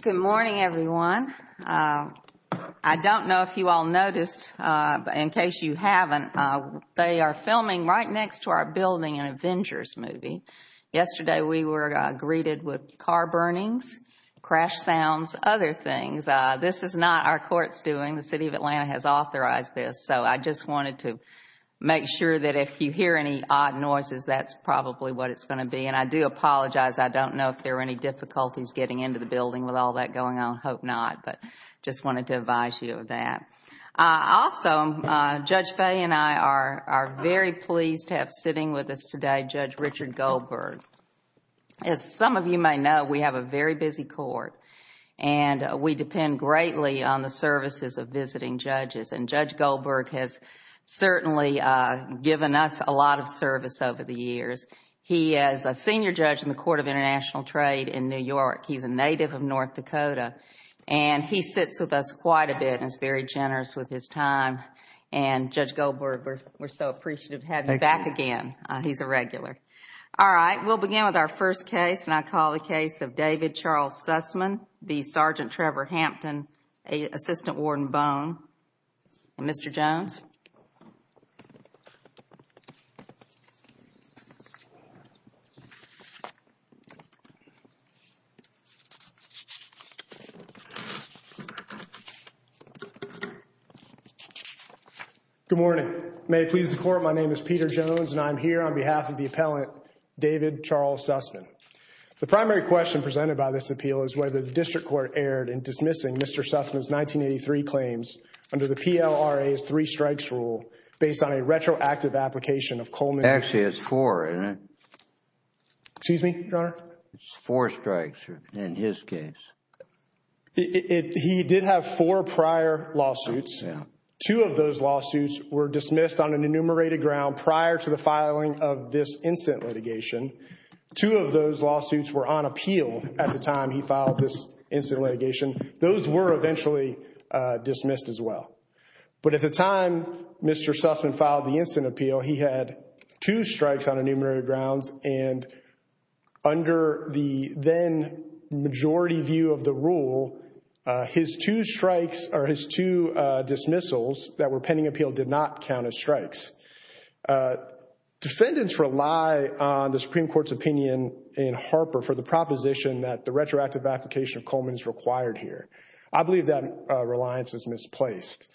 Good morning, everyone. I don't know if you all noticed, but in case you haven't, they are filming right next to our building an Avengers movie. Yesterday, we were greeted with car burnings, crash sounds, other things. This is not our court's doing. The city of Atlanta has authorized this. I just wanted to make sure that if you hear any odd noises, that's probably what it's going to be. I do apologize. I don't know if there are any difficulties getting into the building with all that going on. I hope not. I just wanted to advise you of that. Also, Judge Fahy and I are very pleased to have sitting with us today Judge Richard Goldberg. As some of you may know, we have a very busy court. We depend greatly on the services of visiting judges. Judge Goldberg has certainly given us a lot of service over the years. He is a senior judge in the Court of International Trade in New York. He's a native of North Dakota. He sits with us quite a bit and is very generous with his time. Judge Goldberg, we're so appreciative to have you back again. He's a regular. All right. We'll begin with our first case, and I call the case of David Charles Sussman v. Sergeant Trevor Hampton, Assistant Warden Bone. Mr. Jones? Good morning. May it please the Court, my name is Peter Jones, and I'm here on behalf of the appellant David Charles Sussman. The primary question presented by this appeal is whether the district court erred in dismissing Mr. Sussman's 1983 claims under the PLRA's three-strikes rule based on a retroactive application of Coleman. Actually, it's four, isn't it? Excuse me, Your Honor? It's four strikes in his case. He did have four prior lawsuits. Two of those lawsuits were dismissed on an enumerated ground prior to the filing of this incident litigation. Two of those lawsuits were on appeal at the time he filed this incident litigation. Those were eventually dismissed as well. But at the time Mr. Sussman filed the incident appeal, he had two strikes on enumerated grounds, and under the then-majority view of the rule, his two strikes or his two dismissals that were pending appeal did not count as strikes. Defendants rely on the Supreme Court's opinion in Harper for the proposition that the retroactive application of Coleman is required here. I believe that reliance is misplaced.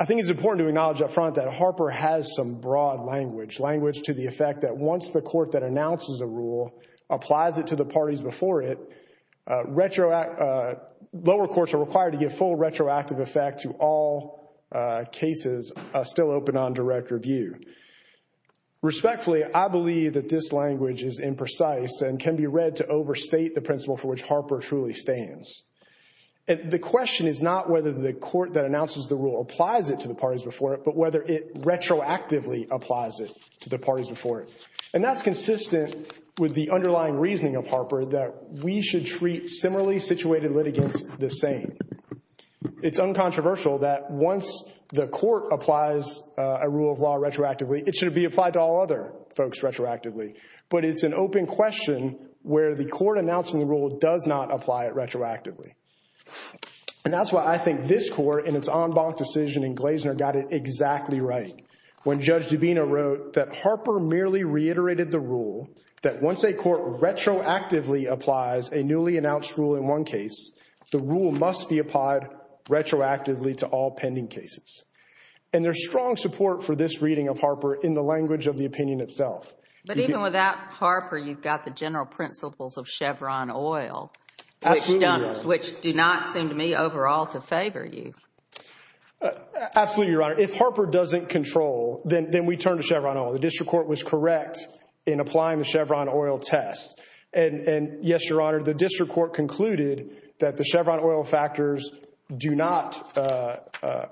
I think it's important to acknowledge up front that Harper has some broad language, language to the effect that once the court that announces a rule applies it to the parties before it, lower courts are required to give full retroactive effect to all cases still open on direct or review. Respectfully, I believe that this language is imprecise and can be read to overstate the principle for which Harper truly stands. The question is not whether the court that announces the rule applies it to the parties before it, but whether it retroactively applies it to the parties before it. And that's consistent with the underlying reasoning of Harper that we should treat similarly situated litigants the same. It's uncontroversial that once the court applies a rule of law retroactively, it should be applied to all other folks retroactively. But it's an open question where the court announcing the rule does not apply it retroactively. And that's why I think this court in its en banc decision in Glazner got it exactly right when Judge Dubina wrote that Harper merely reiterated the rule that once a court retroactively applies a newly announced rule in one case, the rule must be applied retroactively to all pending cases. And there's strong support for this reading of Harper in the language of the opinion itself. But even without Harper, you've got the general principles of Chevron Oil, which do not seem to me overall to favor you. Absolutely, Your Honor. If Harper doesn't control, then we turn to Chevron Oil. The district court was correct in applying the Chevron Oil test. And yes, Your Honor, the district court concluded that the Chevron Oil factors do not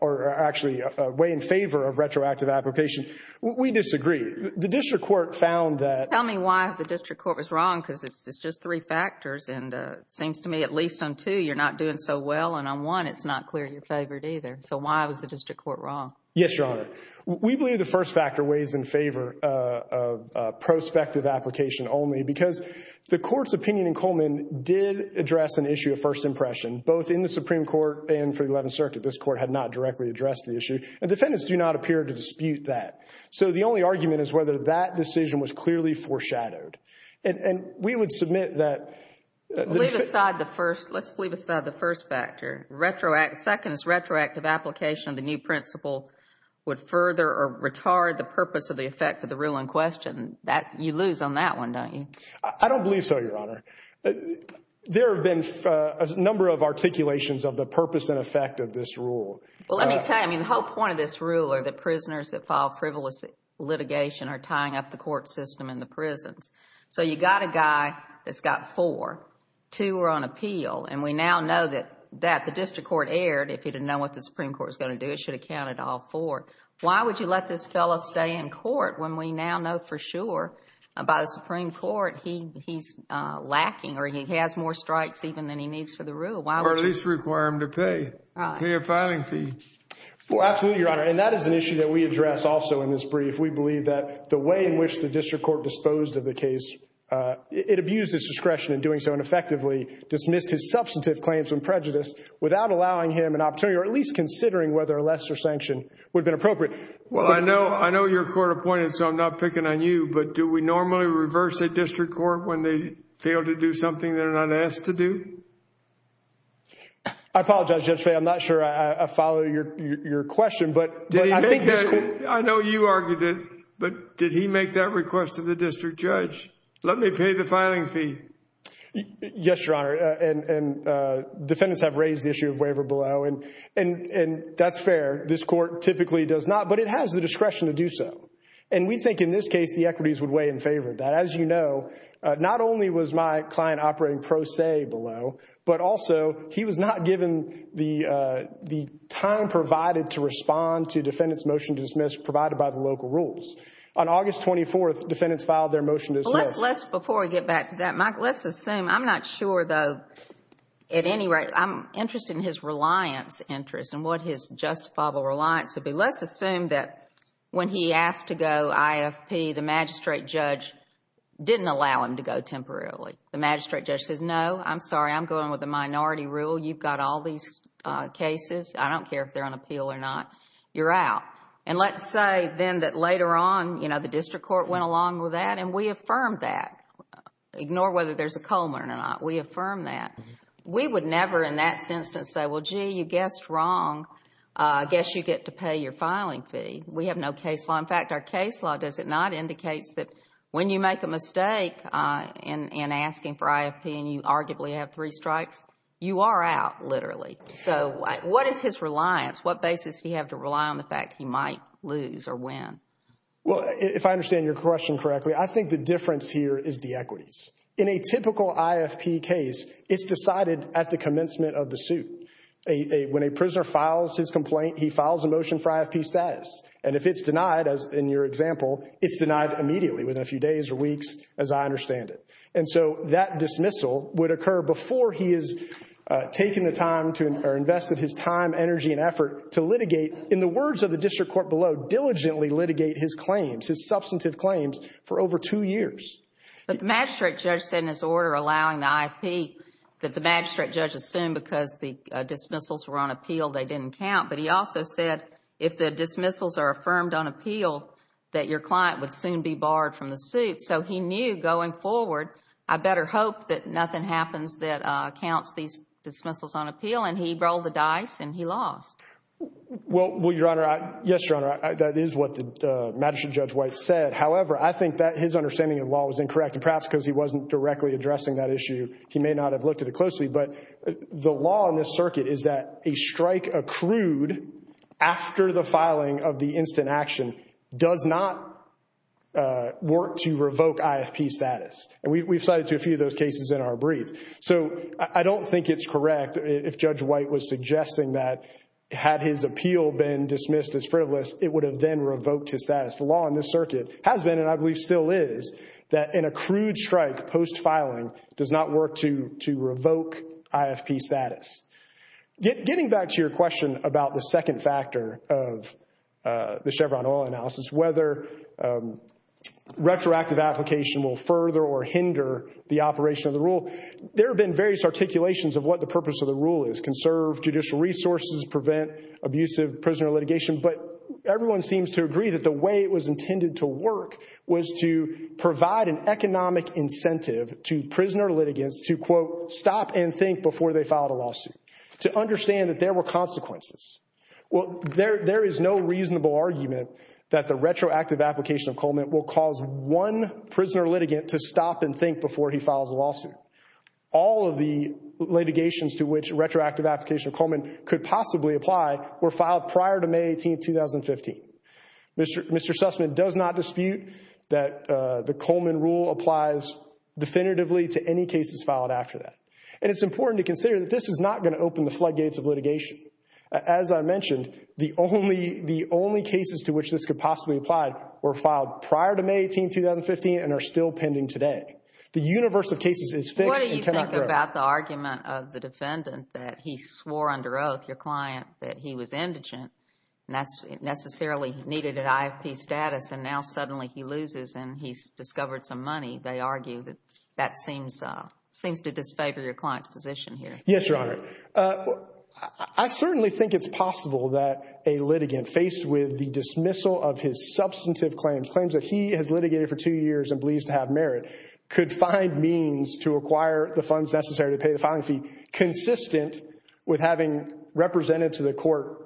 or actually weigh in favor of retroactive application. We disagree. The district court found that. Tell me why the district court was wrong, because it's just three factors and it seems to me at least on two, you're not doing so well, and on one, it's not clear you're favored either. So why was the district court wrong? Yes, Your Honor. We believe the first factor weighs in favor of prospective application only, because the court's opinion in Coleman did address an issue of first impression, both in the Supreme Court and for the Eleventh Circuit. This court had not directly addressed the issue. And defendants do not appear to dispute that. So the only argument is whether that decision was clearly foreshadowed. And we would submit that the district court— Leave aside the first—let's leave aside the first factor. Second is retroactive application of the new principle would further or retard the purpose of the effect of the rule in question. You lose on that one, don't you? I don't believe so, Your Honor. There have been a number of articulations of the purpose and effect of this rule. Well, let me tell you, I mean, the whole point of this rule are the prisoners that file frivolous litigation are tying up the court system and the prisons. So you've got a guy that's got four, two are on appeal, and we now know that the district court erred if it didn't know what the Supreme Court was going to do. It should have counted all four. Why would you let this fellow stay in court when we now know for sure by the Supreme Court he's lacking or he has more strikes even than he needs for the rule? Or at least require him to pay, pay a filing fee. Well, absolutely, Your Honor, and that is an issue that we address also in this brief. We believe that the way in which the district court disposed of the case, it abused his discretion in doing so and effectively dismissed his substantive claims of prejudice without allowing him an opportunity, or at least considering whether a lesser sanction would have been appropriate. Well, I know your court appointed, so I'm not picking on you, but do we normally reverse a district court when they fail to do something they're not asked to do? I apologize, Judge Fahey, I'm not sure I follow your question, but I think this court- I know you argued it, but did he make that request to the district judge? Let me pay the filing fee. Yes, Your Honor, and defendants have raised the issue of waiver below, and that's fair. This court typically does not, but it has the discretion to do so. And we think in this case the equities would weigh in favor of that. As you know, not only was my client operating pro se below, but also he was not given the defendant's motion to dismiss provided by the local rules. On August 24th, defendants filed their motion to dismiss. Before we get back to that, Mike, let's assume, I'm not sure though, at any rate, I'm interested in his reliance interest and what his justifiable reliance would be. Let's assume that when he asked to go IFP, the magistrate judge didn't allow him to go temporarily. The magistrate judge says, no, I'm sorry, I'm going with the minority rule, you've got all these cases, I don't care if they're on appeal or not. You're out. And let's say then that later on, you know, the district court went along with that and we affirmed that, ignore whether there's a Coleman or not, we affirmed that. We would never in that instance say, well, gee, you guessed wrong, I guess you get to pay your filing fee. We have no case law. In fact, our case law, does it not, indicates that when you make a mistake in asking for IFP and you arguably have three strikes, you are out, literally. So what is his reliance? What basis does he have to rely on the fact that he might lose or win? Well, if I understand your question correctly, I think the difference here is the equities. In a typical IFP case, it's decided at the commencement of the suit. When a prisoner files his complaint, he files a motion for IFP status. And if it's denied, as in your example, it's denied immediately, within a few days or weeks, as I understand it. And so that dismissal would occur before he is taking the time to invest his time, energy, and effort to litigate, in the words of the district court below, diligently litigate his claims, his substantive claims, for over two years. But the magistrate judge said in his order allowing the IFP that the magistrate judge assumed because the dismissals were on appeal, they didn't count. But he also said if the dismissals are affirmed on appeal, that your client would soon be barred from the suit. So he knew going forward, I better hope that nothing happens that counts these dismissals on appeal. And he rolled the dice and he lost. Well, Your Honor, yes, Your Honor, that is what the magistrate judge White said. However, I think that his understanding of the law was incorrect. And perhaps because he wasn't directly addressing that issue, he may not have looked at it closely. But the law in this circuit is that a strike accrued after the filing of the instant action does not work to revoke IFP status. And we've cited a few of those cases in our brief. So I don't think it's correct if Judge White was suggesting that had his appeal been dismissed as frivolous, it would have then revoked his status. The law in this circuit has been, and I believe still is, that an accrued strike post-filing does not work to revoke IFP status. Getting back to your question about the second factor of the Chevron oil analysis, whether retroactive application will further or hinder the operation of the rule, there have been various articulations of what the purpose of the rule is, conserve judicial resources, prevent abusive prisoner litigation. But everyone seems to agree that the way it was intended to work was to provide an economic incentive to prisoner litigants to, quote, stop and think before they filed a lawsuit, to understand that there were consequences. Well, there is no reasonable argument that the retroactive application of Coleman will cause one prisoner litigant to stop and think before he files a lawsuit. All of the litigations to which retroactive application of Coleman could possibly apply were filed prior to May 18, 2015. Mr. Sussman does not dispute that the Coleman rule applies definitively to any cases filed after that. And it's important to consider that this is not going to open the floodgates of litigation. As I mentioned, the only cases to which this could possibly apply were filed prior to May 18, 2015 and are still pending today. The universe of cases is fixed and cannot grow. What do you think about the argument of the defendant that he swore under oath, your client, that he was indigent and that's necessarily needed an IFP status and now suddenly he loses and he's discovered some money? They argue that that seems to disfavor your client's position here. Yes, Your Honor. I certainly think it's possible that a litigant faced with the dismissal of his substantive claims, claims that he has litigated for two years and believes to have merit, could find means to acquire the funds necessary to pay the filing fee consistent with having represented to the court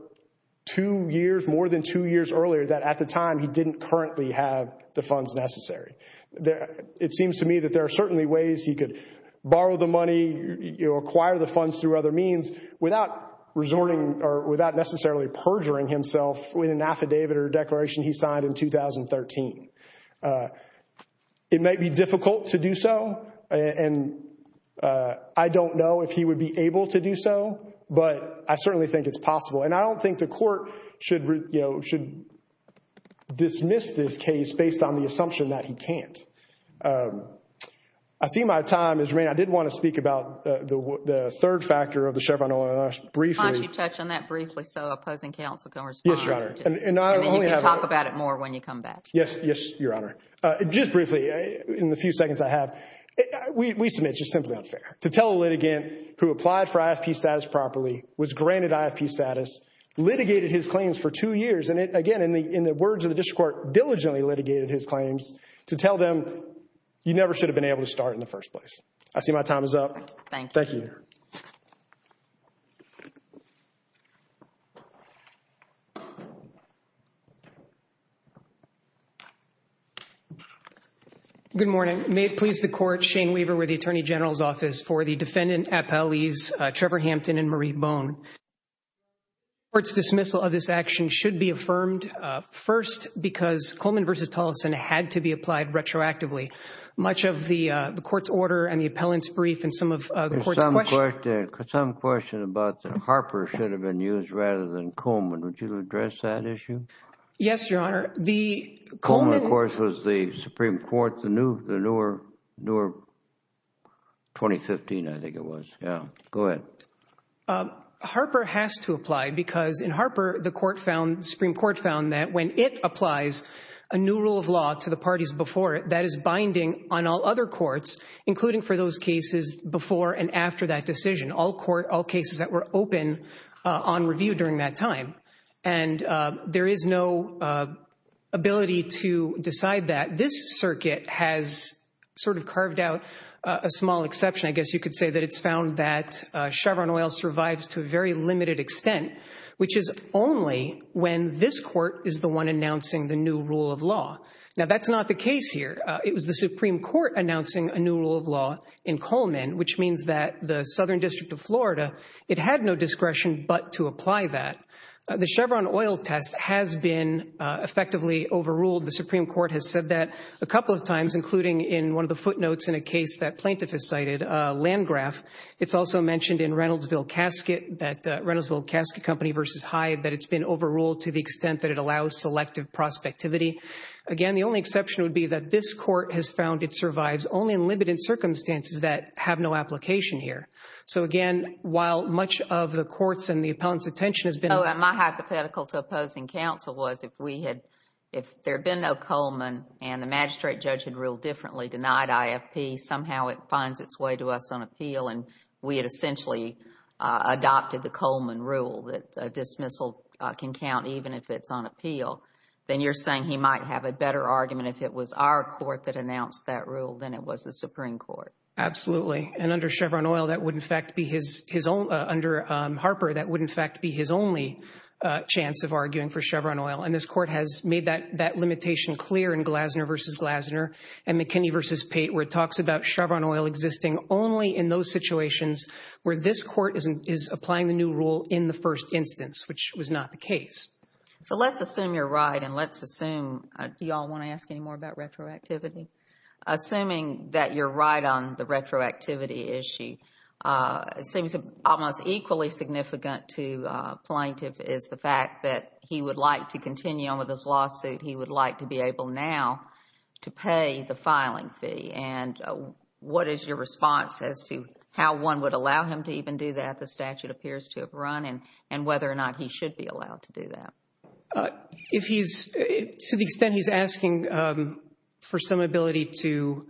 two years, more than two years earlier, that at the time he didn't currently have the funds necessary. It seems to me that there are certainly ways he could borrow the money, acquire the funds through other means without necessarily perjuring himself with an affidavit or declaration he signed in 2013. It might be difficult to do so and I don't know if he would be able to do so, but I certainly think it's possible. I don't think the court should dismiss this case based on the assumption that he can't. I see my time has remained. I did want to speak about the third factor of the Chevron Oil. Why don't you touch on that briefly so opposing counsel can respond and then you can talk about it more when you come back. Yes, Your Honor. Just briefly, in the few seconds I have, we submit it's just simply unfair to tell a litigant who applied for IFP status properly, was granted IFP status, litigated his claims for two years, and again, in the words of the district court, diligently litigated his claims, to tell them you never should have been able to start in the first place. I see my time is up. Thank you. Thank you. Good morning. May it please the court, Shane Weaver with the Attorney General's Office for the defendant appellees Trevor Hampton and Marie Bone. Court's dismissal of this action should be affirmed first because Coleman v. Tolleson had to be applied retroactively. Much of the court's order and the appellant's brief and some of the court's questions There's some question about that Harper should have been used rather than Coleman. Would you address that issue? Yes, Your Honor. The Coleman Coleman, of course, was the Supreme Court, the newer 2015, I think it was. Yeah. Go ahead. Harper has to apply because in Harper, the Supreme Court found that when it applies a new rule of law to the parties before it, that is binding on all other courts, including for those cases before and after that decision, all cases that were open on review during that time. And there is no ability to decide that. This circuit has sort of carved out a small exception, I guess you could say, that it's found that Chevron oil survives to a very limited extent, which is only when this court is the one announcing the new rule of law. Now, that's not the case here. It was the Supreme Court announcing a new rule of law in Coleman, which means that the Chevron oil test has been effectively overruled. The Supreme Court has said that a couple of times, including in one of the footnotes in a case that plaintiff has cited, Landgraf. It's also mentioned in Reynoldsville Casket that Reynoldsville Casket Company versus Hive that it's been overruled to the extent that it allows selective prospectivity. Again, the only exception would be that this court has found it survives only in limited circumstances that have no application here. So again, while much of the court's and the appellant's attention has been... Oh, and my hypothetical to opposing counsel was if we had... if there had been no Coleman and the magistrate judge had ruled differently, denied IFP, somehow it finds its way to us on appeal and we had essentially adopted the Coleman rule that a dismissal can count even if it's on appeal, then you're saying he might have a better argument if it was our court that announced that rule than it was the Supreme Court. Absolutely. And under Chevron Oil, that would in fact be his own... under Harper, that would in fact be his only chance of arguing for Chevron Oil. And this court has made that limitation clear in Glasner versus Glasner and McKinney versus Pate where it talks about Chevron Oil existing only in those situations where this court is applying the new rule in the first instance, which was not the case. So let's assume you're right and let's assume... do you all want to ask any more about retroactivity? Assuming that you're right on the retroactivity issue, it seems almost equally significant to a plaintiff is the fact that he would like to continue on with his lawsuit. He would like to be able now to pay the filing fee. And what is your response as to how one would allow him to even do that? The statute appears to have run and whether or not he should be allowed to do that. If he's... to the extent he's asking for some ability to...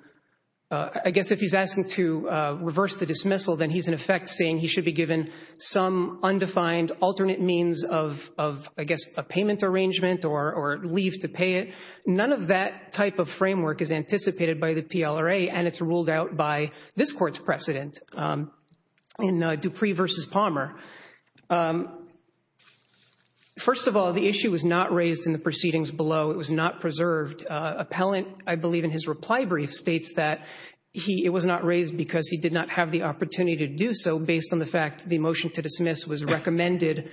I guess if he's asking to reverse the dismissal, then he's in effect saying he should be given some undefined alternate means of, I guess, a payment arrangement or leave to pay it. None of that type of framework is anticipated by the PLRA and it's ruled out by this court's precedent in Dupree versus Palmer. First of all, the issue was not raised in the proceedings below. It was not preserved. Appellant, I believe in his reply brief, states that he... it was not raised because he did not have the opportunity to do so based on the fact the motion to dismiss was recommended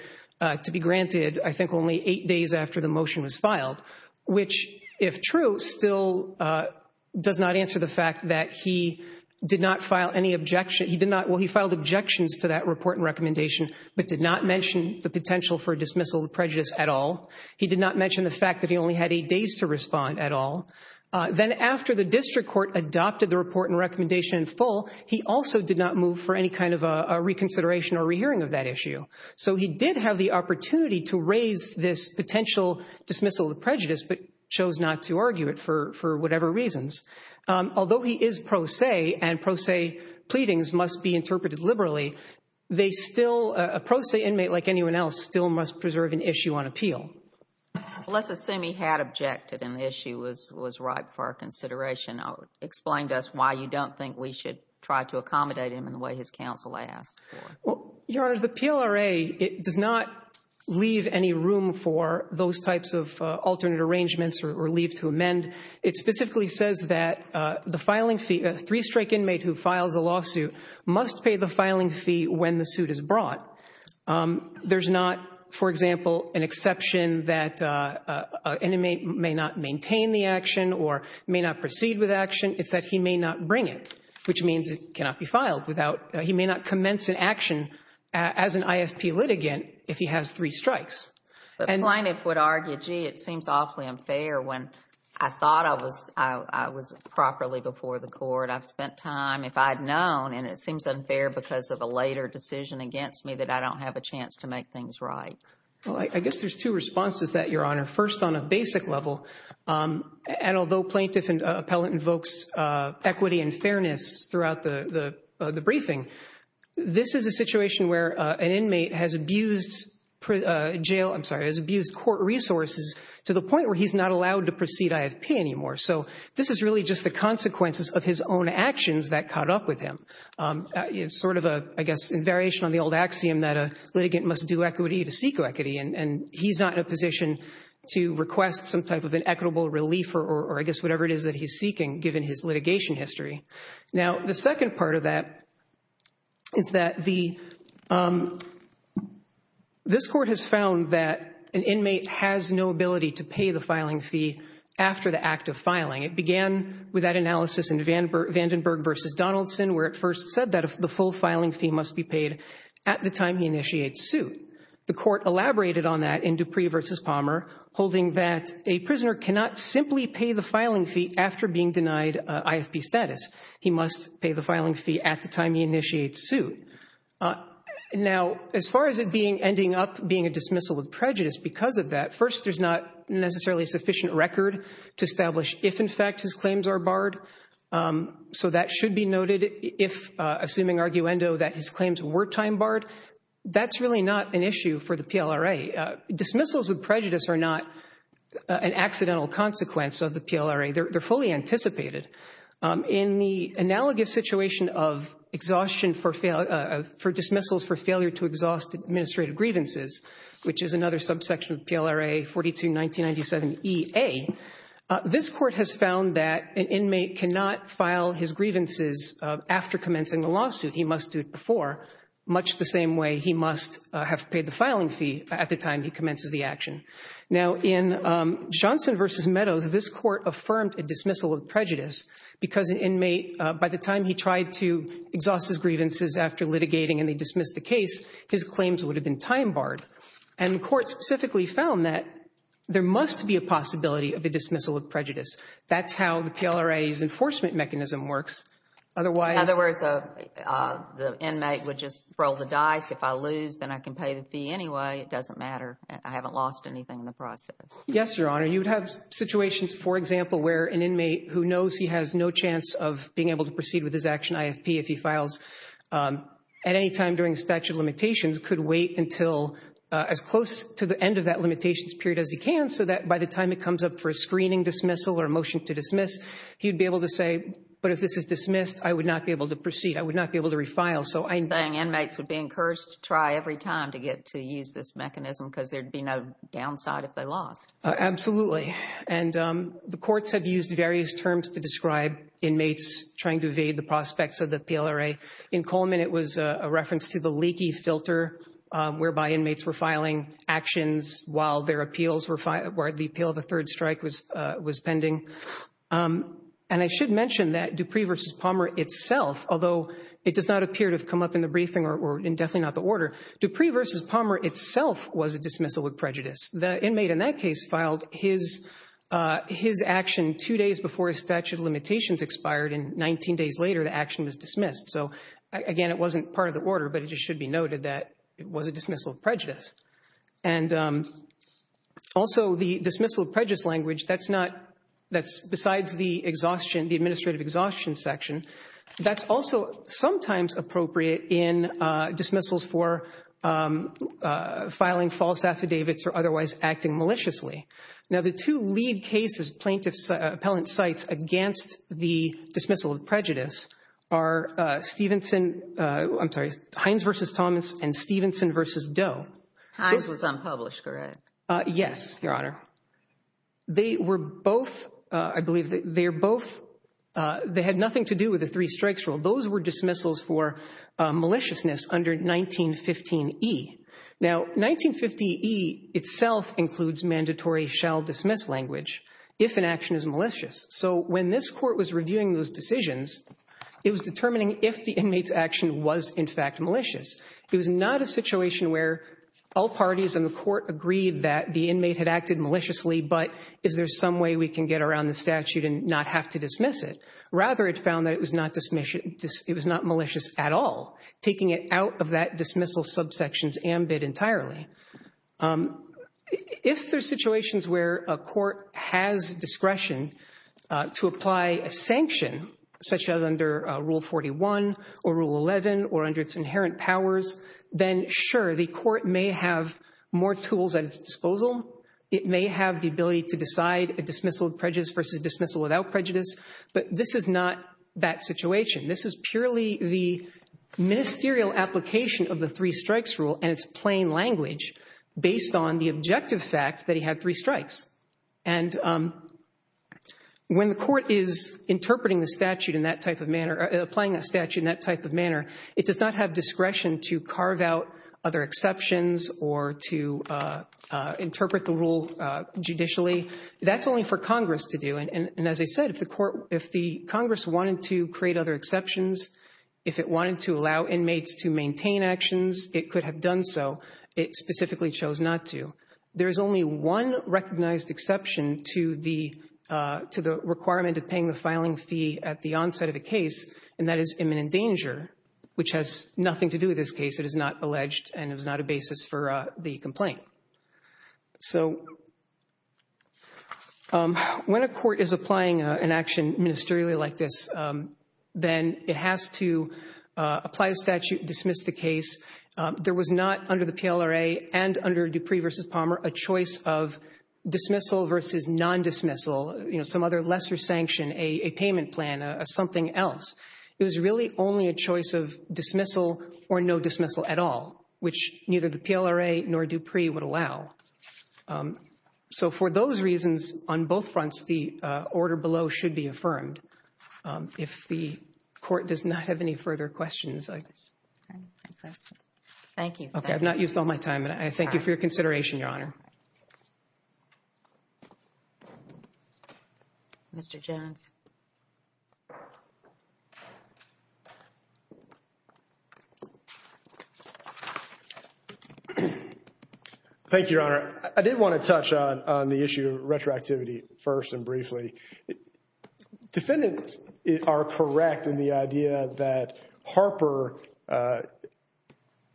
to be granted, I think, only eight days after the motion was filed, which, if true, still does not answer the fact that he did not file any objection... he did not... well, he filed objections to that report and recommendation, but did not mention the potential for dismissal of prejudice at all. He did not mention the fact that he only had eight days to respond at all. Then after the district court adopted the report and recommendation in full, he also did not move for any kind of a reconsideration or rehearing of that issue. So he did have the opportunity to raise this potential dismissal of prejudice, but chose not to argue it for whatever reasons. Although he is pro se and pro se pleadings must be interpreted liberally, they still... a pro se inmate like anyone else still must preserve an issue on appeal. Let's assume he had objected and the issue was right for our consideration. Explain to us why you don't think we should try to accommodate him in the way his counsel asked for. Your Honor, the PLRA does not leave any room for those types of alternate arrangements or leave to amend. It specifically says that the filing fee... a three-strike inmate who files a lawsuit must pay the filing fee when the suit is brought. There's not, for example, an exception that an inmate may not maintain the action or may not proceed with action. It's that he may not bring it, which means it cannot be filed without... he may not commence an action as an IFP litigant if he has three strikes. The plaintiff would argue, gee, it seems awfully unfair when I thought I was properly before the court. I've spent time, if I'd known, and it seems unfair because of a later decision against me that I don't have a chance to make things right. Well, I guess there's two responses to that, Your Honor. First on a basic level, and although plaintiff and appellate invokes equity and fairness throughout the briefing, this is a situation where an inmate has abused jail... I'm sorry, has abused court resources to the point where he's not allowed to proceed IFP anymore. So this is really just the consequences of his own actions that caught up with him. It's sort of a, I guess, in variation on the old axiom that a litigant must do equity to seek equity, and he's not in a position to request some type of an equitable relief or, I guess, whatever it is that he's seeking given his litigation history. Now, the second part of that is that the... this court has found that an inmate has no ability to pay the filing fee after the act of filing. It began with that analysis in Vandenberg v. Donaldson, where it first said that the full filing fee must be paid at the time he initiates suit. The court elaborated on that in Dupree v. Palmer, holding that a prisoner cannot simply pay the filing fee after being denied IFP status. He must pay the filing fee at the time he initiates suit. Now, as far as it ending up being a dismissal of prejudice because of that, first, there's not necessarily a sufficient record to establish if, in fact, his claims are barred. So that should be noted if, assuming arguendo, that his claims were time barred. That's really not an issue for the PLRA. Dismissals with prejudice are not an accidental consequence of the PLRA. They're fully anticipated. In the analogous situation of exhaustion for dismissals for failure to exhaust administrative grievances, which is another subsection of PLRA 42-1997EA, this court has found that an inmate cannot file his grievances after commencing the lawsuit. He must do it before, much the same way he must have paid the filing fee at the time he commences the action. Now, in Johnson v. Meadows, this court affirmed a dismissal of prejudice because an inmate, by the time he tried to exhaust his grievances after litigating and they dismissed the case, his claims would have been time barred. And the court specifically found that there must be a possibility of a dismissal of prejudice. That's how the PLRA's enforcement mechanism works. In other words, the inmate would just roll the dice. If I lose, then I can pay the fee anyway. It doesn't matter. I haven't lost anything in the process. Yes, Your Honor. You'd have situations, for example, where an inmate who knows he has no chance of being able to proceed with his action IFP if he files at any time during the statute of limitations could wait until as close to the end of that limitations period as he can so that by the time it comes up for a screening dismissal or a motion to dismiss, he'd be able to say, but if this is dismissed, I would not be able to proceed. I would not be able to refile. So I'm saying inmates would be encouraged to try every time to get to use this mechanism because there'd be no downside if they lost. Absolutely. And the courts have used various terms to describe inmates trying to evade the prospects of the PLRA. In Coleman, it was a reference to the leaky filter whereby inmates were filing actions while their appeals were filed, where the appeal of a third strike was was pending. And I should mention that Dupree v. Palmer itself, although it does not appear to have come up in the briefing or indefinitely not the order, Dupree v. Palmer itself was a dismissal of prejudice. The inmate in that case filed his action two days before his statute of limitations expired and 19 days later, the action was dismissed. So again, it wasn't part of the order, but it just should be noted that it was a dismissal of prejudice. And also the dismissal of prejudice language, that's not, that's besides the exhaustion, the administrative exhaustion section, that's also sometimes appropriate in dismissals for filing false affidavits or otherwise acting maliciously. Now the two lead cases plaintiffs, appellant cites against the dismissal of prejudice are Stevenson, I'm sorry, Hines v. Thomas and Stevenson v. Doe. Hines was unpublished, correct? Yes, Your Honor. They were both, I believe they're both, they had nothing to do with the three strikes rule. Those were dismissals for maliciousness under 1915E. Now 1950E itself includes mandatory shall dismiss language if an action is malicious. So when this court was reviewing those decisions, it was determining if the inmate's action was in fact malicious. It was not a situation where all parties in the court agreed that the inmate had acted maliciously, but is there some way we can get around the statute and not have to dismiss it? Rather, it found that it was not malicious at all, taking it out of that dismissal subsection's ambit entirely. If there's situations where a court has discretion to apply a sanction, such as under Rule 41 or Rule 11 or under its inherent powers, then sure, the court may have more tools at its disposal. It may have the ability to decide a dismissal of prejudice versus dismissal without prejudice, but this is not that situation. This is purely the ministerial application of the three strikes rule, and it's plain language based on the objective fact that he had three strikes. And when the court is interpreting the statute in that type of manner, applying a statute in that type of manner, it does not have discretion to carve out other exceptions or to interpret the rule judicially. That's only for Congress to do. And as I said, if the Congress wanted to create other exceptions, if it wanted to allow inmates to maintain actions, it could have done so. It specifically chose not to. There is only one recognized exception to the requirement of paying the filing fee at the onset of a case, and that is imminent danger, which has nothing to do with this case. It is not alleged and is not a basis for the complaint. So when a court is applying an action ministerially like this, then it has to apply a statute, dismiss the case. There was not under the PLRA and under Dupree versus Palmer a choice of dismissal versus non-dismissal, some other lesser sanction, a payment plan, something else. It was really only a choice of dismissal or no dismissal at all, which neither the PLRA nor Dupree would allow. So for those reasons, on both fronts, the order below should be affirmed. If the court does not have any further questions. Thank you. I've not used all my time, and I thank you for your consideration, Your Honor. Mr. Jones. Thank you, Your Honor. I did want to touch on the issue of retroactivity first and briefly. Defendants are correct in the idea that Harper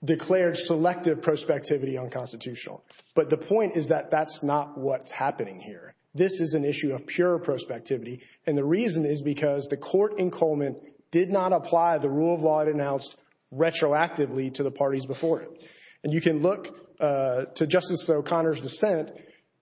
declared selective prospectivity unconstitutional, but the point is that that's not what's happening here. This is an issue of pure prospectivity, and the reason is because the court in Coleman did not apply the rule of law it announced retroactively to the parties before it. And you can look to Justice O'Connor's dissent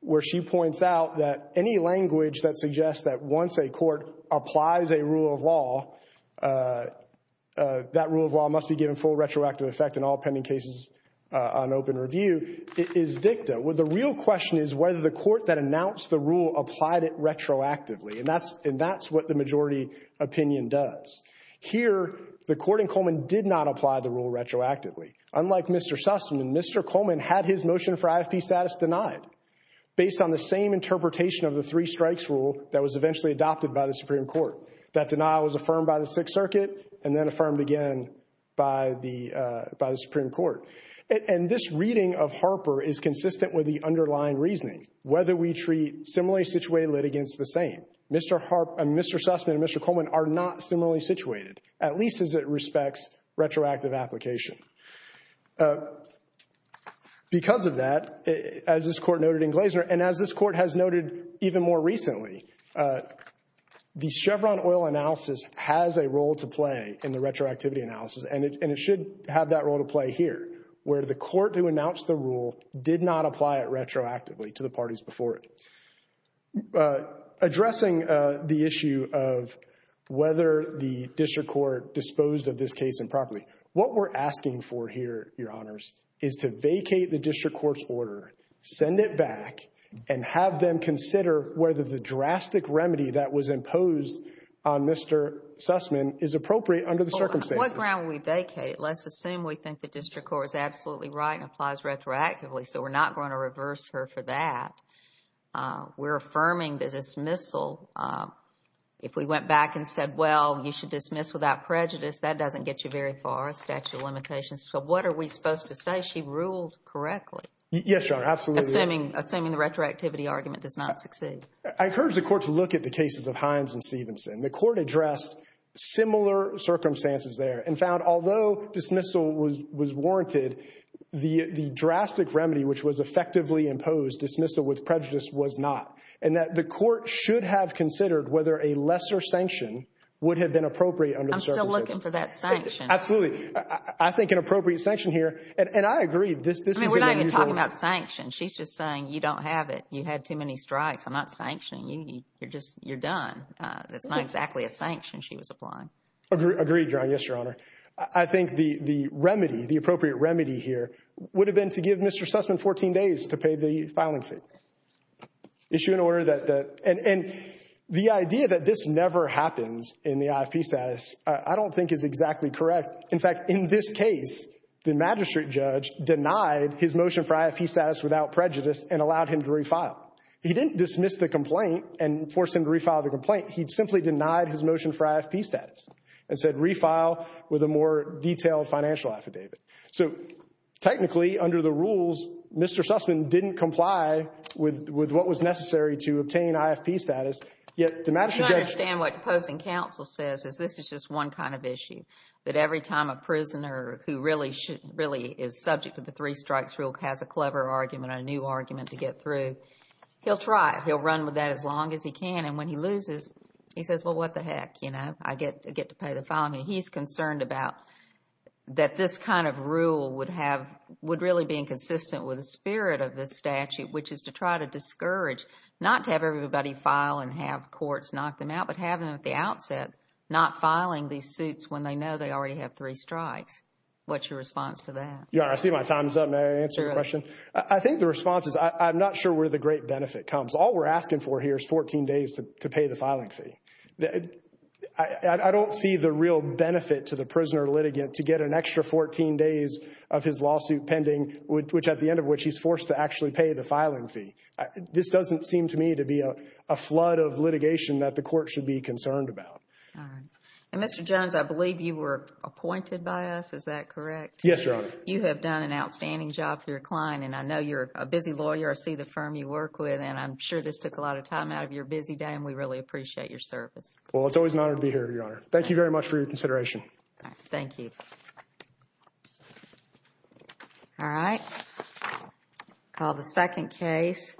where she points out that any language that suggests that once a court applies a rule of law, that rule of law must be given full retroactive effect in all pending cases on open review is dicta. The real question is whether the court that announced the rule applied it retroactively, and that's what the majority opinion does. Here, the court in Coleman did not apply the rule retroactively. Unlike Mr. Sussman, Mr. Coleman had his motion for IFP status denied based on the same interpretation of the three strikes rule that was eventually adopted by the Supreme Court. That denial was affirmed by the Sixth Circuit and then affirmed again by the Supreme Court. And this reading of Harper is consistent with the underlying reasoning, whether we treat similarly situated litigants the same. Mr. Sussman and Mr. Coleman are not similarly situated, at least as it respects retroactive application. Because of that, as this court noted in Glazer, and as this court has noted even more recently, the Chevron oil analysis has a role to play in the retroactivity analysis, and it should have that role to play here, where the court who announced the rule did not apply it retroactively to the parties before it. Addressing the issue of whether the district court disposed of this case improperly, what we're asking for here, Your Honors, is to vacate the district court's order, send it back, and have them consider whether the drastic remedy that was imposed on Mr. Sussman is appropriate under the circumstances. On what ground would we vacate? Let's assume we think the district court is absolutely right and applies retroactively, so we're not going to reverse her for that. We're affirming the dismissal. If we went back and said, well, you should dismiss without prejudice, that doesn't get you very far, statute of limitations, so what are we supposed to say? She ruled correctly. Yes, Your Honor, absolutely. Assuming the retroactivity argument does not succeed. I encourage the court to look at the cases of Hines and Stevenson. The court addressed similar circumstances there and found, although dismissal was warranted, the drastic remedy which was effectively imposed, dismissal with prejudice, was not, and that the court should have considered whether a lesser sanction would have been appropriate under the circumstances. We're still looking for that sanction. Absolutely. I think an appropriate sanction here, and I agree, this is unusual. I mean, we're not even talking about sanctions. She's just saying, you don't have it. You had too many strikes. I'm not sanctioning you. You're just, you're done. That's not exactly a sanction she was applying. Agreed, Your Honor. Yes, Your Honor. I think the remedy, the appropriate remedy here, would have been to give Mr. Sussman 14 days to pay the filing fee. Issue an order that, and the idea that this never happens in the IFP status, I don't think is exactly correct. In fact, in this case, the magistrate judge denied his motion for IFP status without prejudice and allowed him to refile. He didn't dismiss the complaint and force him to refile the complaint. He simply denied his motion for IFP status and said, refile with a more detailed financial affidavit. So technically, under the rules, Mr. Sussman didn't comply with what was necessary to obtain IFP status, yet the magistrate judge— One kind of issue, that every time a prisoner who really should, really is subject to the three strikes rule has a clever argument, a new argument to get through, he'll try. He'll run with that as long as he can. And when he loses, he says, well, what the heck? You know, I get to pay the filing fee. He's concerned about that this kind of rule would have, would really be inconsistent with the spirit of this statute, which is to try to discourage, not to have everybody file and have courts knock them out, but have them at the outset not filing these suits when they know they already have three strikes. What's your response to that? Yeah, I see my time's up. May I answer your question? I think the response is I'm not sure where the great benefit comes. All we're asking for here is 14 days to pay the filing fee. I don't see the real benefit to the prisoner litigant to get an extra 14 days of his lawsuit pending, which at the end of which he's forced to actually pay the filing fee. This doesn't seem to me to be a flood of litigation that the court should be concerned about. And Mr. Jones, I believe you were appointed by us. Is that correct? Yes, Your Honor. You have done an outstanding job for your client, and I know you're a busy lawyer. I see the firm you work with, and I'm sure this took a lot of time out of your busy day, and we really appreciate your service. Well, it's always an honor to be here, Your Honor. Thank you very much for your consideration. Thank you. All right. Call the second case.